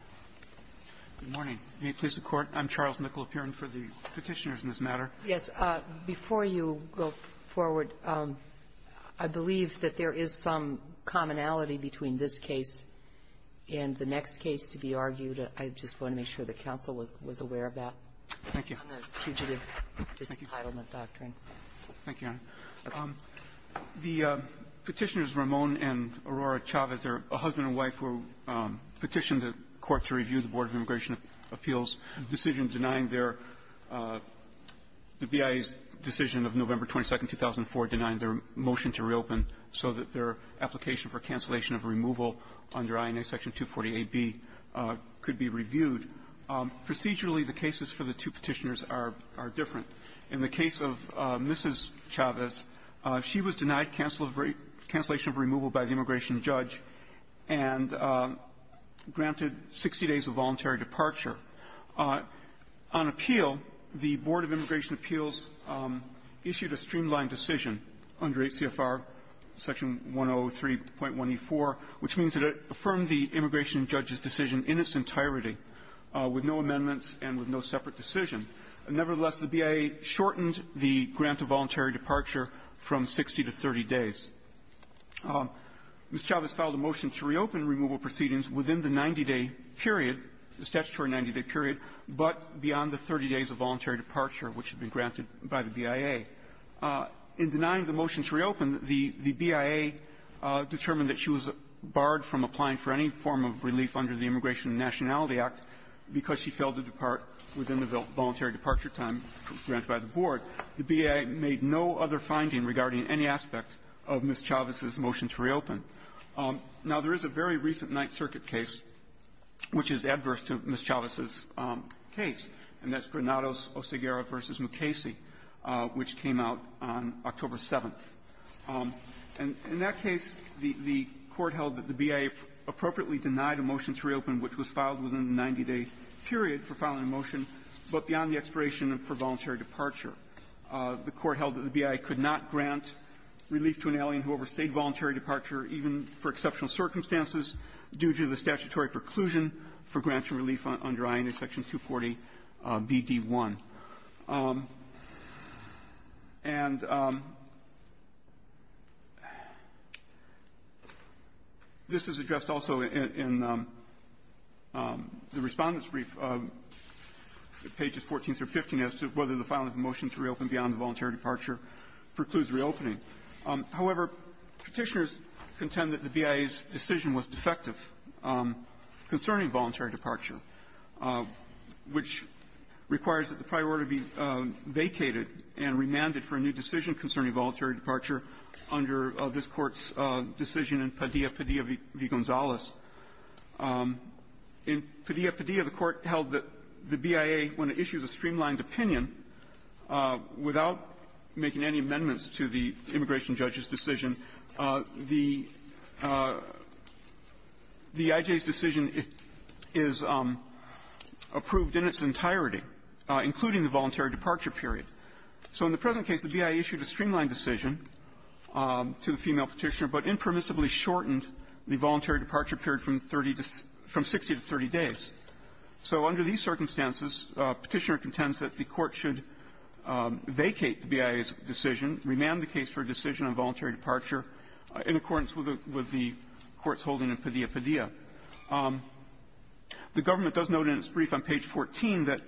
CHARLES NICOLA PURIN Good morning. May it please the Court? I'm Charles Nicola Purin for the Petitioners in this matter. MS. NICOLA PURIN Yes. Before you go forward, I believe that there is some commonality between this case and the next case to be argued. I just want to make sure that counsel was aware of that. CHARLES NICOLA PURIN Thank you. MS. NICOLA PURIN On the fugitive disentitlement doctrine. CHARLES NICOLA PURIN Thank you, Your Honor. The Petitioners, Ramon and Aurora Chavez, are a husband and wife who petitioned the Court to review the Board of Immigration Appeals' decision denying their the BIA's decision of November 22nd, 2004, denying their motion to reopen so that their application for cancellation of removal under INA Section 240aB could be reviewed. Procedurally, the cases for the two Petitioners are different. In the case of Mrs. Chavez, she was denied cancellation of removal by the immigration judge and granted 60 days of voluntary departure. On appeal, the Board of Immigration Appeals issued a streamlined decision under ACFR Section 103.1e4, which means that it affirmed the immigration judge's decision in its entirety with no amendments and with no separate decision. Nevertheless, the BIA shortened the grant of voluntary departure from 60 to 30 days. Ms. Chavez filed a motion to reopen removal proceedings within the 90-day period, the statutory 90-day period, but beyond the 30 days of voluntary departure, which had been granted by the BIA. In denying the motion to reopen, the BIA determined that she was barred from applying for any form of relief under the Immigration and Nationality Act because she failed to depart within the voluntary departure time granted by the Board. The BIA made no other finding regarding any aspect of Ms. Chavez's motion to reopen. Now, there is a very recent Ninth Circuit case which is adverse to Ms. Chavez's case, and that's Granados-Oseguera v. Mukasey, which came out on October 7th. And in that case, the Court held that the BIA appropriately denied a motion to reopen, which was filed within the 90-day period for filing a motion, but beyond the expiration for voluntary departure. The Court held that the BIA could not grant relief to an alien who overstayed voluntary departure, even for exceptional circumstances, due to the statutory preclusion for grants and relief under INA Section 240bd1. And this is addressed also in the Respondent's brief, pages 14 through 15, as to whether the filing of a motion to reopen beyond the voluntary departure precludes reopening. However, Petitioners contend that the BIA's decision was defective concerning voluntary departure, which requires that the prior order be vacated and remanded for a new decision concerning voluntary departure under this Court's decision in Padilla v. Gonzales. In Padilla v. Padilla, the Court held that the BIA, when it issues a streamlined opinion, without making any amendments to the immigration judge's decision, the I.J.'s decision is approved in its entirety, including the voluntary departure period. So in the present case, the BIA issued a streamlined decision to the female Petitioner, but impermissibly shortened the voluntary departure period from 60 to 30 days. So under these circumstances, Petitioner contends that the Court should vacate the BIA's decision, remand the case for a decision on voluntary departure, in accordance with the Court's holding in Padilla v. Padilla. The government does note in its brief on page 14 that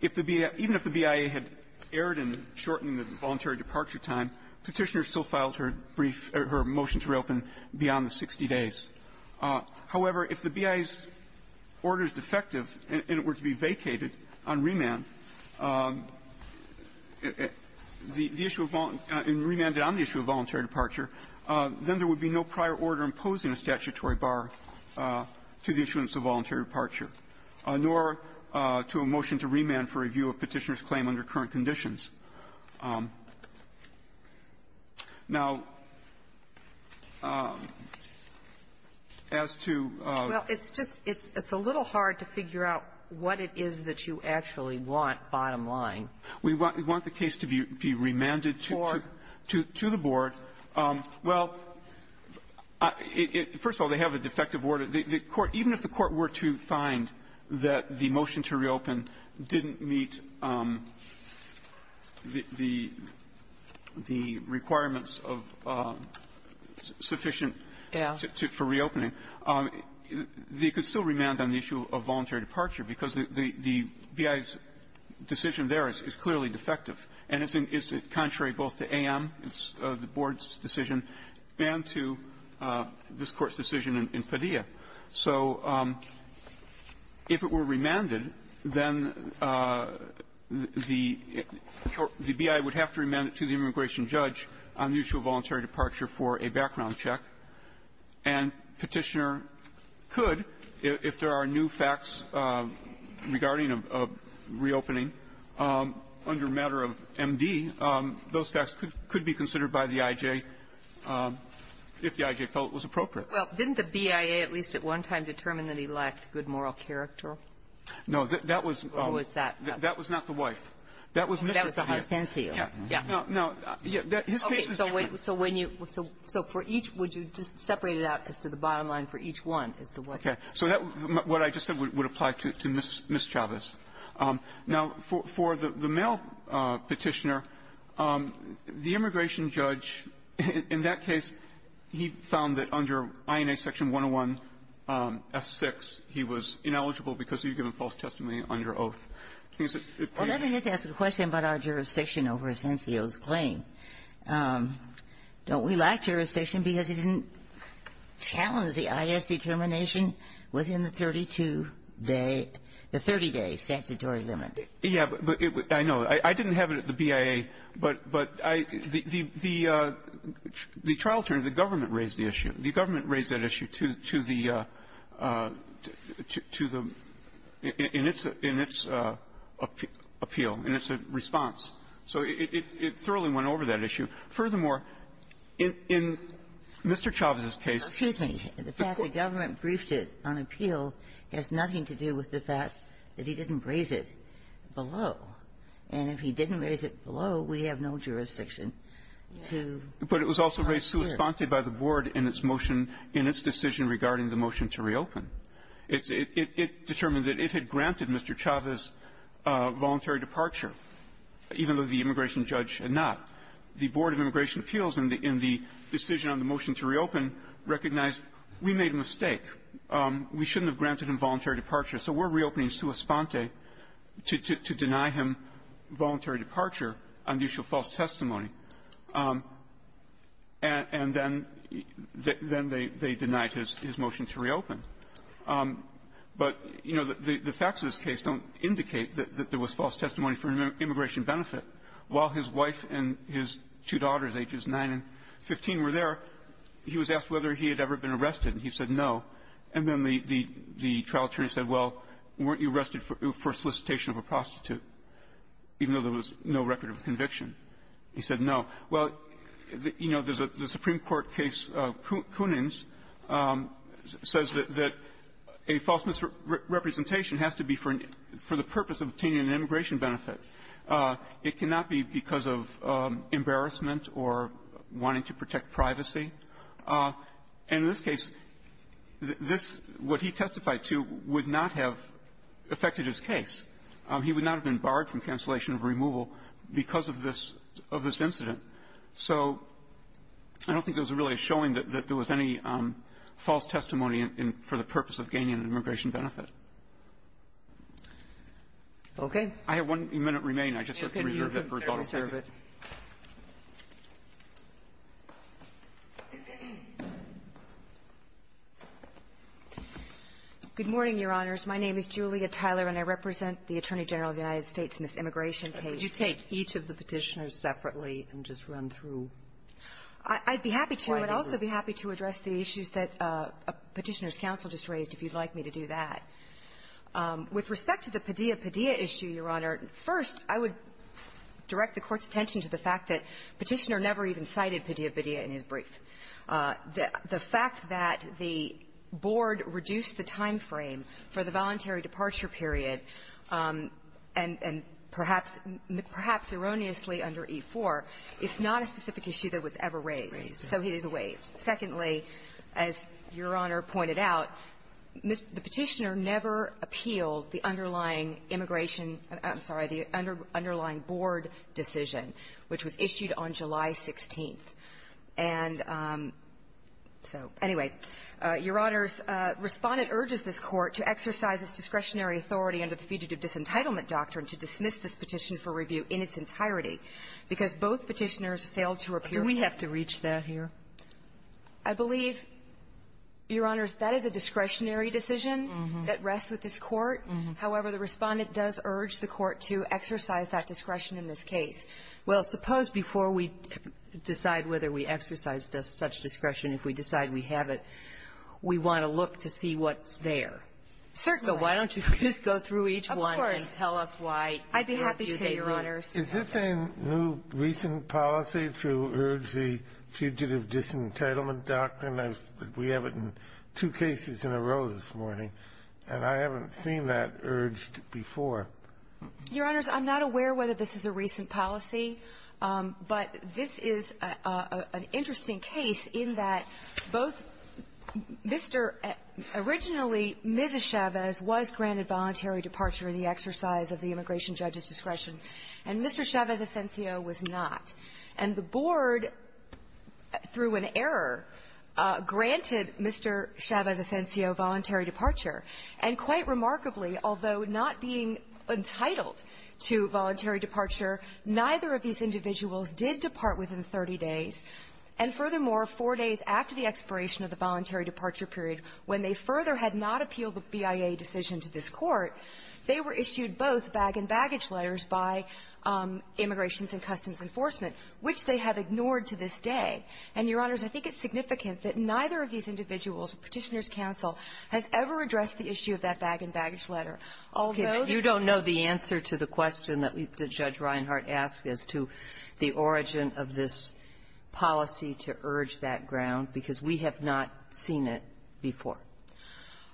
if the BIA even if the BIA had erred in shortening the voluntary departure time, Petitioner still filed her brief or her motion to reopen beyond the 60 days. However, if the BIA's order is defective and it were to be vacated on remand, the issue of voluntary and remanded on the issue of voluntary departure, then there would be no prior order imposing a statutory bar to the issuance of voluntary departure, nor to a motion to remand for review of Petitioner's claim under current conditions. Now, as to the other question I'm not sure I can answer that. Ginsburg. Well, it's just it's a little hard to figure out what it is that you actually want, bottom line. We want the case to be remanded to the board. Well, first of all, they have a defective order. The Court, even if the Court were to find that the motion to reopen didn't meet the requirements of sufficient for reopening, they could still remand on the issue of voluntary departure, because the BIA's decision there is clearly defective. And it's contrary both to A.M., the board's decision, and to this Court's decision in Padilla. So if it were remanded, then the BIA would have to remand it to the immigration judge on the issue of voluntary departure for a background check. And Petitioner could, if there are new facts regarding a reopening, under a matter of M.D., those facts could be considered by the I.J. if the I.J. felt it was appropriate. Well, didn't the BIA at least at one time determine that he lacked good moral character? No. That was not the wife. That was Mr. Bia. That was the hostess here. Yeah. Yeah. No, no. His case is different. So when you – so for each, would you just separate it out as to the bottom line for each one, as to what the case is? Okay. So what I just said would apply to Ms. Chavez. Now, for the male Petitioner, the immigration judge, in that case, he found that under INA section 101, F6, he was ineligible because he had given false testimony under oath. Well, let me just ask a question about our jurisdiction over Asencio's claim. Don't we lack jurisdiction because he didn't challenge the I.S. determination within the 32-day – the 30-day statutory limit? Yeah. But it – I know. I didn't have it at the BIA. But I – the trial attorney, the government raised the issue. The government raised that issue to the – to the – in its – in its appeal, in its response. So it thoroughly went over that issue. Furthermore, in Mr. Chavez's case – Excuse me. The fact the government briefed it on appeal has nothing to do with the fact that he didn't raise it below. And if he didn't raise it below, we have no jurisdiction to – But it was also raised sui sponte by the Board in its motion – in its decision regarding the motion to reopen. It determined that it had granted Mr. Chavez voluntary departure. Even though the immigration judge had not. The Board of Immigration Appeals, in the – in the decision on the motion to reopen, recognized we made a mistake. We shouldn't have granted him voluntary departure. So we're reopening sui sponte to – to deny him voluntary departure on the issue of false testimony. And then – then they – they denied his – his motion to reopen. But, you know, the – the facts of this case don't indicate that there was false testimony for an immigration benefit. While his wife and his two daughters, ages 9 and 15, were there, he was asked whether he had ever been arrested, and he said no. And then the – the trial attorney said, well, weren't you arrested for solicitation of a prostitute, even though there was no record of conviction? He said no. Well, you know, there's a – the Supreme Court case, Kunin's, says that – that a false misrepresentation has to be for an – for the purpose of obtaining an immigration benefit. It cannot be because of embarrassment or wanting to protect privacy. And in this case, this – what he testified to would not have affected his case. He would not have been barred from cancellation of removal because of this – of this incident. So I don't think there was really a showing that – that there was any false testimony in – for the purpose of gaining an immigration benefit. Roberts. Okay. I have one minute remaining. I just have to reserve it for a couple of minutes. Okay. You can reserve it. Good morning, Your Honors. My name is Julia Tyler, and I represent the Attorney General of the United States in this immigration case. Could you take each of the Petitioners separately and just run through? I'd be happy to, but I'd also be happy to address the issues that Petitioner's raised about that. With respect to the Padilla-Padilla issue, Your Honor, first, I would direct the Court's attention to the fact that Petitioner never even cited Padilla-Padilla in his brief. The fact that the board reduced the time frame for the voluntary departure period and – and perhaps – perhaps erroneously under E-4 is not a specific issue that was ever raised. So he is waived. Secondly, as Your Honor pointed out, the Petitioner never appealed the underlying immigration – I'm sorry – the underlying board decision, which was issued on July 16th. And so, anyway, Your Honors, Respondent urges this Court to exercise its discretionary authority under the Fugitive Disentitlement Doctrine to dismiss this petition for review in its entirety, because both Petitioners failed to repeal it. Do we have to reach that here? I believe, Your Honors, that is a discretionary decision that rests with this Court. However, the Respondent does urge the Court to exercise that discretion in this case. Well, suppose before we decide whether we exercise such discretion, if we decide we have it, we want to look to see what's there. Certainly. So why don't you just go through each one and tell us why. Of course. I'd be happy to, Your Honors. Is this a new, recent policy to urge the Fugitive Disentitlement Doctrine? We have it in two cases in a row this morning, and I haven't seen that urged before. Your Honors, I'm not aware whether this is a recent policy, but this is an interesting case in that both Mr. – originally, Ms. Chavez was granted voluntary departure in the exercise of the immigration judge's discretion, and Mr. Chavez Asensio was not. And the Board, through an error, granted Mr. Chavez Asensio voluntary departure. And quite remarkably, although not being entitled to voluntary departure, neither of these individuals did depart within 30 days. And furthermore, four days after the expiration of the voluntary departure period, when they further had not appealed the BIA decision to this Court, they were issued both bag-and-baggage letters by Immigrations and Customs Enforcement, which they have ignored to this day. And, Your Honors, I think it's significant that neither of these individuals, Petitioner's counsel, has ever addressed the issue of that bag-and-baggage letter, although the – Okay. You don't know the answer to the question that we – that Judge Reinhart asked as to the origin of this policy to urge that ground, because we have not seen it before.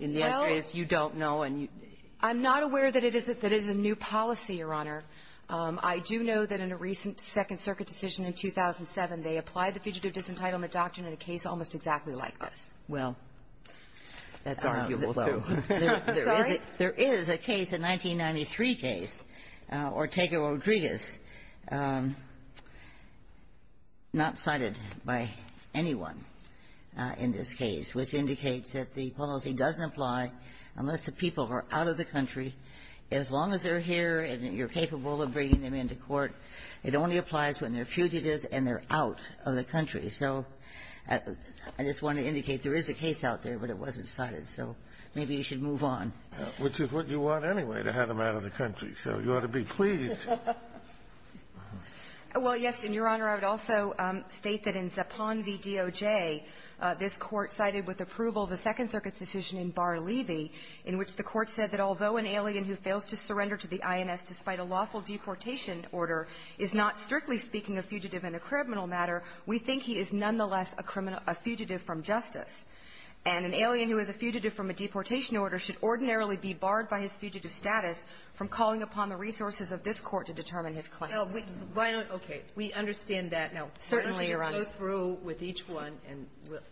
And the answer is you don't know and you – Well, I'm not aware that it is – that it is a new policy, Your Honor. I do know that in a recent Second Circuit decision in 2007, they applied the Fugitive Disentitlement Doctrine in a case almost exactly like this. Well, that's arguable, though. Sorry? There is a case, a 1993 case, Ortega-Rodriguez, not cited by anyone in this case, which indicates that the policy doesn't apply unless the people are out of the country. As long as they're here and you're capable of bringing them into court, it only applies when they're fugitives and they're out of the country. So I just want to indicate there is a case out there, but it wasn't cited. So maybe you should move on. Which is what you want, anyway, to have them out of the country. So you ought to be pleased. Well, yes. And, Your Honor, I would also state that in Zipan v. DOJ, this Court cited with approval the Second Circuit's decision in Barr-Levy, in which the Court said that although an alien who fails to surrender to the INS despite a lawful deportation order is not strictly speaking a fugitive in a criminal matter, we think he is nonetheless a criminal – a fugitive from justice. And an alien who is a fugitive from a deportation order should ordinarily be barred by his fugitive status from calling upon the resources of this Court to determine his claims. Why don't – okay. We understand that. No. Certainly, Your Honor. Why don't you just go through with each one and we'll –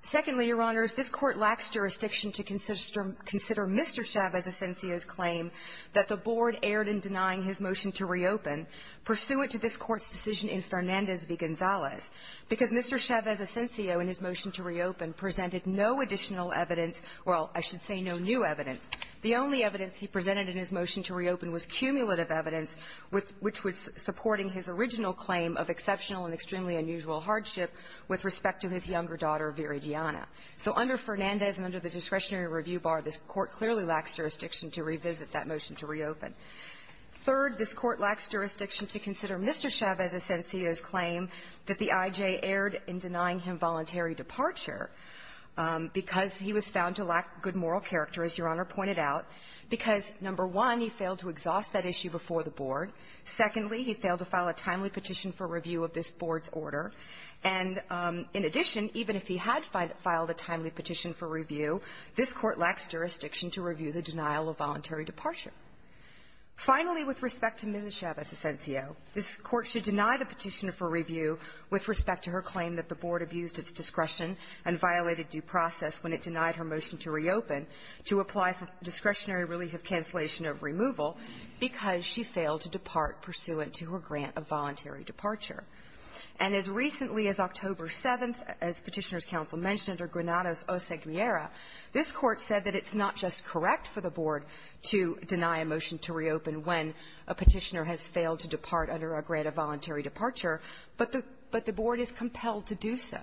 Secondly, Your Honors, this Court lacks jurisdiction to consider Mr. Chavez Asensio's claim that the board erred in denying his motion to reopen pursuant to this Court's decision in Fernandez v. Gonzalez, because Mr. Chavez Asensio in his motion to reopen presented no additional evidence – well, I should say no new evidence. The only evidence he presented in his motion to reopen was cumulative evidence which was supporting his original claim of exceptional and extremely unusual hardship with respect to his younger daughter, Viridiana. So under Fernandez and under the discretionary review bar, this Court clearly lacks jurisdiction to revisit that motion to reopen. Third, this Court lacks jurisdiction to consider Mr. Chavez Asensio's claim that the IJ erred in denying him voluntary departure because he was found to lack good moral character, as Your Honor pointed out, because, number one, he failed to exhaust that issue before the board. Secondly, he failed to file a timely petition for review of this board's order. And in addition, even if he had filed a timely petition for review, this Court lacks jurisdiction to review the denial of voluntary departure. Finally, with respect to Mrs. Chavez Asensio, this Court should deny the petitioner for review with respect to her claim that the board abused its discretion and violated due process when it denied her motion to reopen to apply for discretionary relief of cancellation of removal because she failed to depart pursuant to her grant of voluntary departure. And as recently as October 7th, as Petitioner's counsel mentioned, or Granados O. Segmiera, this Court said that it's not just correct for the board to deny a motion to reopen when a petitioner has failed to depart under a grant of voluntary departure, but the board is compelled to do so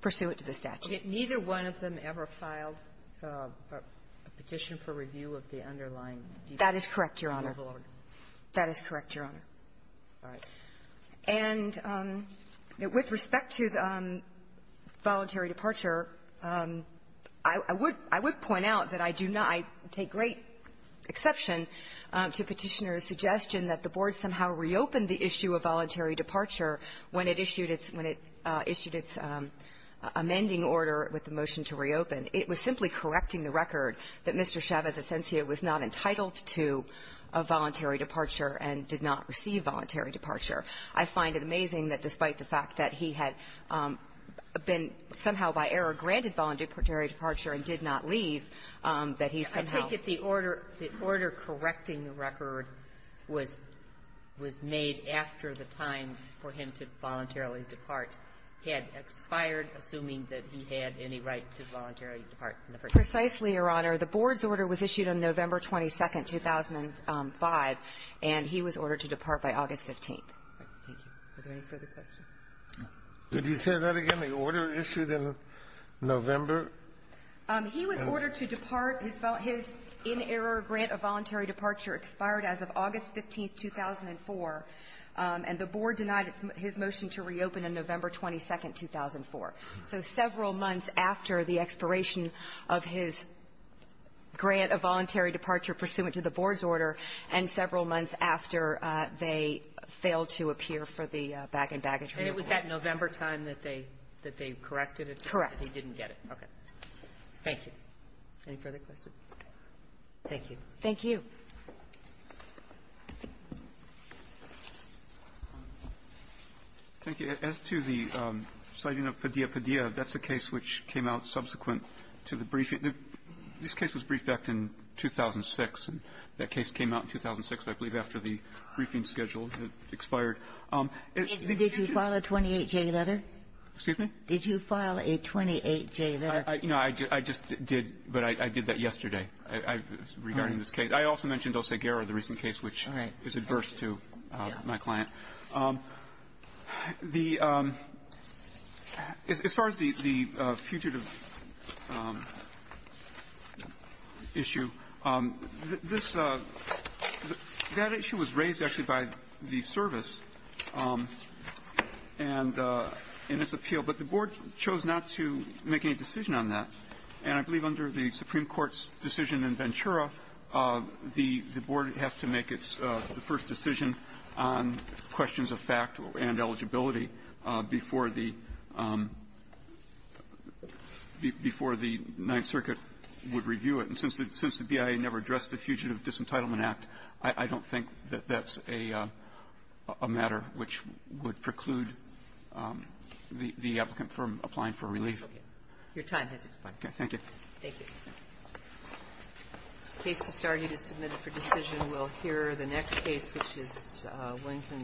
pursuant to the statute. Sotomayor, neither one of them ever filed a petition for review of the underlying deed? That is correct, Your Honor. That is correct, Your Honor. All right. And with respect to voluntary departure, I would point out that I do not take great exception to Petitioner's suggestion that the board somehow reopened the issue of voluntary departure when it issued its amending order with the motion to reopen. It was simply correcting the record that Mr. Chavez Asensio was not entitled to a voluntary departure and did not receive voluntary departure. I find it amazing that despite the fact that he had been somehow by error granted voluntary departure and did not leave, that he somehow ---- I take it the order the order correcting the record was made after the time for him to voluntarily depart had expired, assuming that he had any right to voluntarily depart in the first place. Precisely, Your Honor. The board's order was issued on November 22nd, 2005, and he was ordered to depart by August 15th. Thank you. Are there any further questions? Did he say that again? The order issued in November? He was ordered to depart. His inerror grant of voluntary departure expired as of August 15th, 2004, and the board denied his motion to reopen on November 22nd, 2004. So several months after the expiration of his grant of voluntary departure pursuant to the board's order and several months after they failed to appear for the bag-and-bag attorney. And it was that November time that they corrected it? Correct. That he didn't get it? Okay. Thank you. Any further questions? Thank you. Thank you. Thank you. As to the citing of Padilla-Padilla, that's a case which came out subsequent to the briefing. This case was briefed back in 2006, and that case came out in 2006, I believe, after the briefing schedule expired. Did you file a 28-J letter? Excuse me? Did you file a 28-J letter? No, I just did, but I did that yesterday regarding this case. I also mentioned El Seguero, the recent case, which is adverse to my client. The as far as the fugitive issue, this that issue was raised actually by the service and its appeal, but the board chose not to make any decision on that. And I believe under the Supreme Court's decision in Ventura, the board has to make its first decision on questions of fact and eligibility before the Ninth Circuit would review it. And since the BIA never addressed the Fugitive Disentitlement Act, I don't think that that's a matter which would preclude the applicant from applying for relief. Your time has expired. Okay. Thank you. Thank you. The case to start, it is submitted for decision. We'll hear the next case, which is Linton.